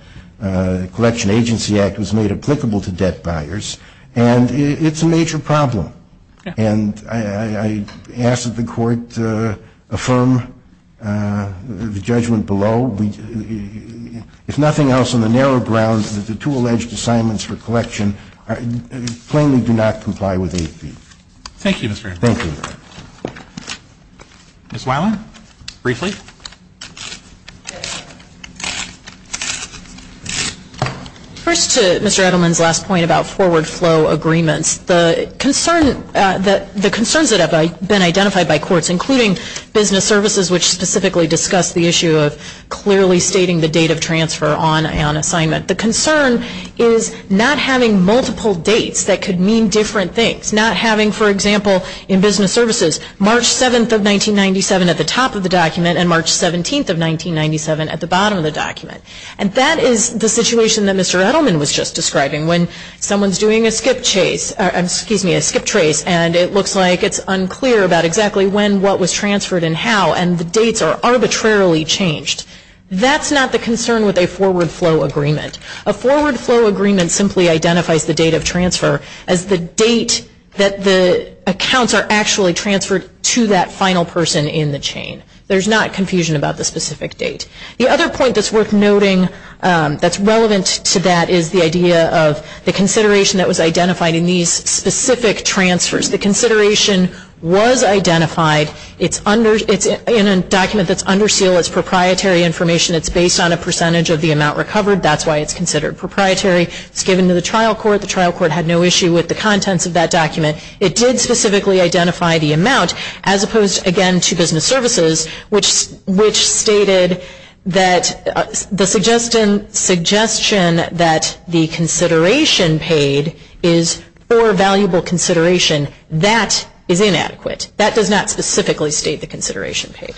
Collection Agency Act was made applicable to debt buyers. And it's a major problem. And I ask that the Court affirm the judgment below. If nothing else, on the narrow grounds that the two alleged assignments for collection plainly do not comply with AP. Thank you, Mr. Earnest. Thank you. Ms. Weiland, briefly. First to Mr. Edelman's last point about forward flow agreements. The concerns that have been identified by courts, including business services, which specifically discuss the issue of clearly stating the date of transfer on an assignment. The concern is not having multiple dates that could mean different things. Not having, for example, in business services, March 7th of 1997 at the top of the document and March 17th of 1997 at the bottom of the document. And that is the situation that Mr. Edelman was just describing. When someone's doing a skip trace and it looks like it's unclear about exactly when what was transferred and how, and the dates are arbitrarily changed. That's not the concern with a forward flow agreement. A forward flow agreement simply identifies the date of transfer as the date that the accounts are actually transferred to that final person in the chain. There's not confusion about the specific date. The other point that's worth noting that's relevant to that is the idea of the consideration that was identified in these specific transfers. The consideration was identified. It's in a document that's under seal. It's proprietary information. It's based on a percentage of the amount recovered. That's why it's considered proprietary. It's given to the trial court. The trial court had no issue with the contents of that document. It did specifically identify the amount as opposed, again, to business services, which stated that the suggestion that the consideration paid is for valuable consideration. That is inadequate. That does not specifically state the consideration paid.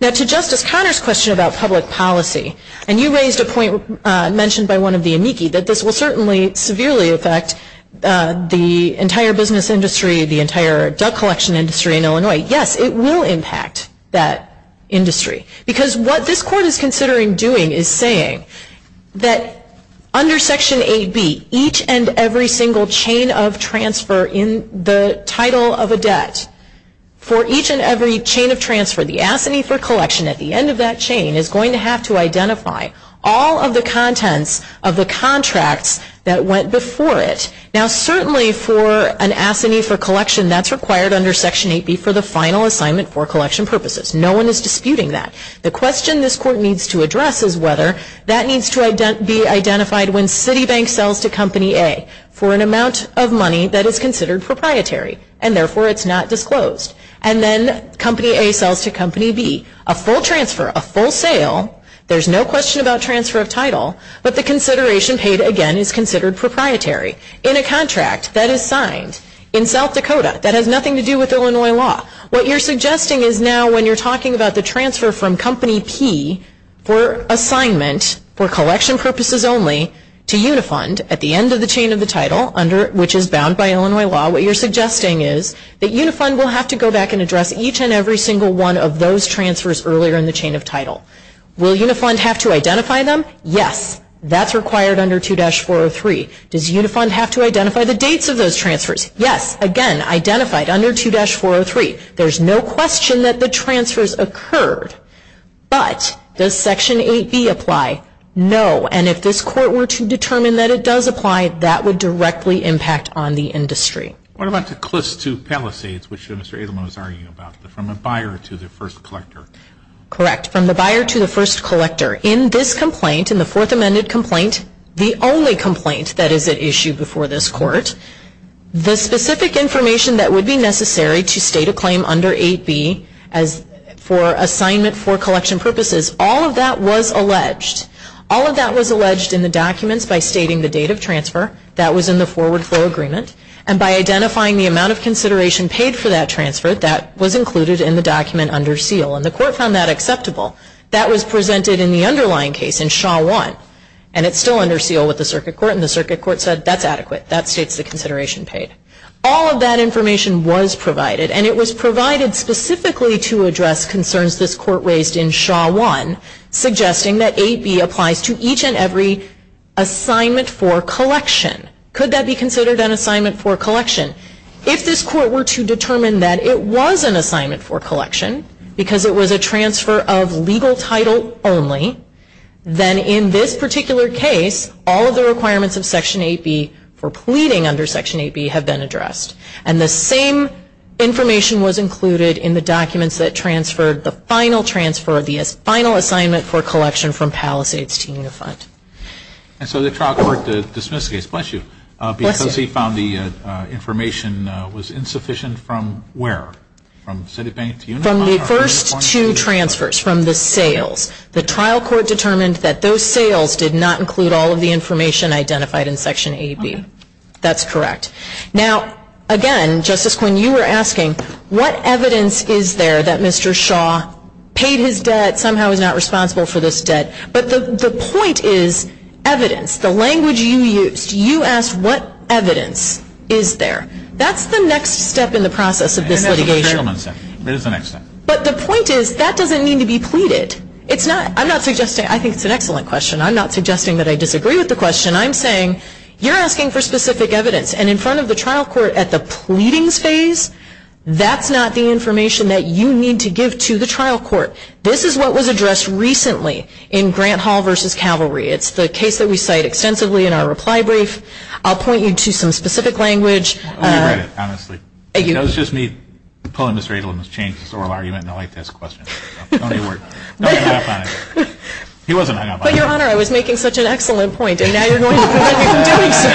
Now, to Justice Conner's question about public policy, and you raised a point mentioned by one of the amici that this will certainly severely affect the entire business industry, the entire debt collection industry in Illinois, yes, it will impact that industry. Because what this court is considering doing is saying that under Section 8B, each and every single chain of transfer in the title of a debt, for each and every chain of transfer, the assignee for collection at the end of that chain is going to have to identify all of the contents of the contracts that went before it. Now, certainly for an assignee for collection, that's required under Section 8B for the final assignment for collection purposes. No one is disputing that. The question this court needs to address is whether that needs to be identified when Citibank sells to Company A for an amount of money that is considered proprietary, and therefore it's not disclosed. And then Company A sells to Company B. A full transfer, a full sale, there's no question about transfer of title, but the consideration paid again is considered proprietary in a contract that is signed in South Dakota. That has nothing to do with Illinois law. What you're suggesting is now when you're talking about the transfer from Company P for assignment for collection purposes only to Unifund at the end of the chain of the title, which is bound by Illinois law, what you're suggesting is that Unifund will have to go back and address each and every single one of those transfers earlier in the chain of title. Will Unifund have to identify them? Yes. That's required under 2-403. Does Unifund have to identify the dates of those transfers? Yes. Again, identified under 2-403. There's no question that the transfers occurred. But does Section 8B apply? No. And if this court were to determine that it does apply, that would directly impact on the industry. What about the CLIS II Palisades, which Mr. Adelman was arguing about, from the buyer to the first collector? Correct. From the buyer to the first collector. In this complaint, in the fourth amended complaint, the only complaint that is at issue before this court, the specific information that would be necessary to state a claim under 8B for assignment for collection purposes, all of that was alleged. All of that was alleged in the documents by stating the date of transfer. That was in the forward flow agreement. And by identifying the amount of consideration paid for that transfer, that was included in the document under seal. And the court found that acceptable. That was presented in the underlying case in Shaw I. And it's still under seal with the circuit court. And the circuit court said that's adequate. That states the consideration paid. All of that information was provided. And it was provided specifically to address concerns this court raised in Shaw I, suggesting that 8B applies to each and every assignment for collection. Could that be considered an assignment for collection? If this court were to determine that it was an assignment for collection, because it was a transfer of legal title only, then in this particular case, all of the requirements of Section 8B for pleading under Section 8B have been addressed. And the same information was included in the documents that transferred the final transfer, the final assignment for collection from Palisades to Unifront. And so the trial court dismissed the case. Bless you. Because he found the information was insufficient from where? From Citibank to Unifront? From the first two transfers, from the sales. The trial court determined that those sales did not include all of the information identified in Section 8B. That's correct. Now, again, Justice Quinn, you were asking, what evidence is there that Mr. Shaw paid his debt, somehow is not responsible for this debt? But the point is evidence. The language you used, you asked what evidence is there. That's the next step in the process of this litigation. It is the next step. But the point is, that doesn't mean to be pleaded. I think it's an excellent question. I'm not suggesting that I disagree with the question. I'm saying you're asking for specific evidence. And in front of the trial court at the pleadings phase, that's not the information that you need to give to the trial court. This is what was addressed recently in Grant Hall v. Cavalry. It's the case that we cite extensively in our reply brief. I'll point you to some specific language. You read it, honestly. It was just me pulling this radial and it changed the oral argument. I like this question. Don't hang up on it. He wasn't hanging up on it. But, Your Honor, I was making such an excellent point. And now you're going to prevent me from doing so.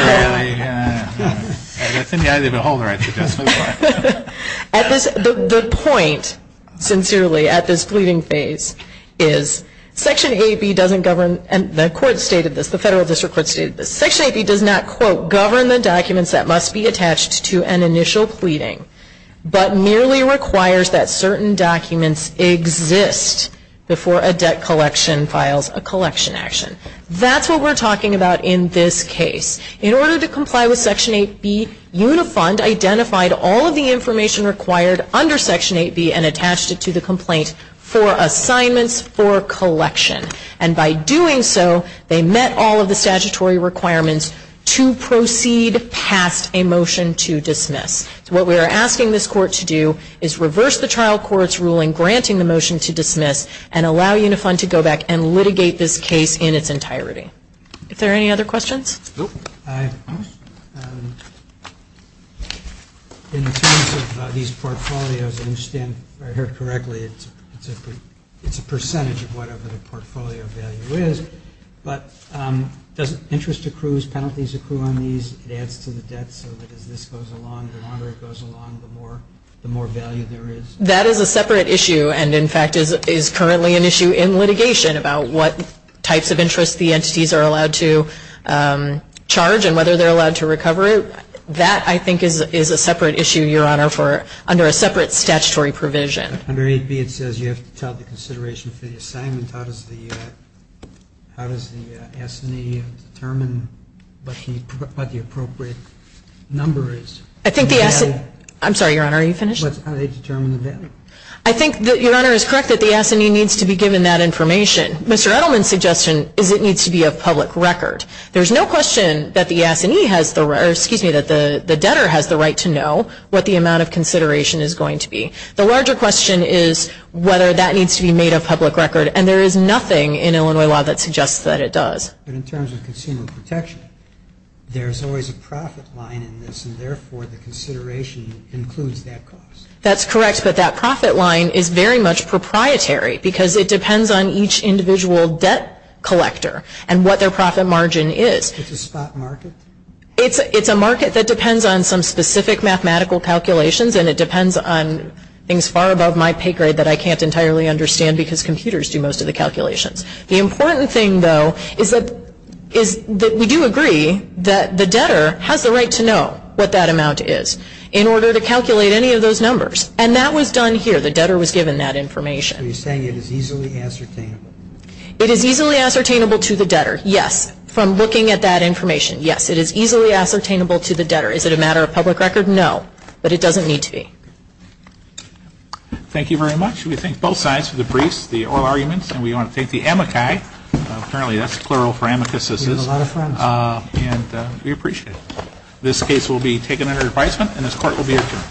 That's in the eye of the beholder, I suggest. The point, sincerely, at this pleading phase is, Section 8B doesn't govern, and the federal district court stated this, Section 8B does not, quote, govern the documents that must be attached to an initial pleading, but merely requires that certain documents exist before a debt collection files a collection action. That's what we're talking about in this case. In order to comply with Section 8B, Unifund identified all of the information required under Section 8B and attached it to the complaint for assignments for collection. And by doing so, they met all of the statutory requirements to proceed past a motion to dismiss. So what we are asking this court to do is reverse the trial court's ruling granting the motion to dismiss and allow Unifund to go back and litigate this case in its entirety. Are there any other questions? Nope. In terms of these portfolios, I understand, if I heard correctly, it's a percentage of whatever the portfolio value is, but does interest accrues, penalties accrue on these? It adds to the debt, so as this goes along, the longer it goes along, the more value there is? That is a separate issue and, in fact, is currently an issue in litigation about what types of interests the agencies are allowed to charge and whether they're allowed to recover it. That, I think, is a separate issue, Your Honor, under a separate statutory provision. Under 8B, it says you have to tell the consideration for the assignment. How does the S&E determine what the appropriate number is? I think the S&E ñ I'm sorry, Your Honor, are you finished? How do they determine the value? I think, Your Honor, it's correct that the S&E needs to be given that information. Mr. Edelman's suggestion is it needs to be of public record. There's no question that the S&E has the ñ or, excuse me, that the debtor has the right to know what the amount of consideration is going to be. The larger question is whether that needs to be made of public record, and there is nothing in Illinois law that suggests that it does. But in terms of consumer protection, there's always a profit line in this, and, therefore, the consideration includes that cost. That's correct, but that profit line is very much proprietary because it depends on each individual debt collector and what their profit margin is. It's a spot market? It's a market that depends on some specific mathematical calculations, and it depends on things far above my pay grade that I can't entirely understand because computers do most of the calculations. The important thing, though, is that we do agree that the debtor has the right to know what that amount is in order to calculate any of those numbers, and that was done here. The debtor was given that information. So you're saying it is easily ascertainable? It is easily ascertainable to the debtor, yes, from looking at that information, yes. It is easily ascertainable to the debtor. Is it a matter of public record? No, but it doesn't need to be. Thank you very much. We thank both sides for the briefs, the oral arguments, and we want to thank the amici. Apparently that's plural for amicus, this is. We have a lot of friends. And we appreciate it. This case will be taken under advisement, and this Court will be adjourned.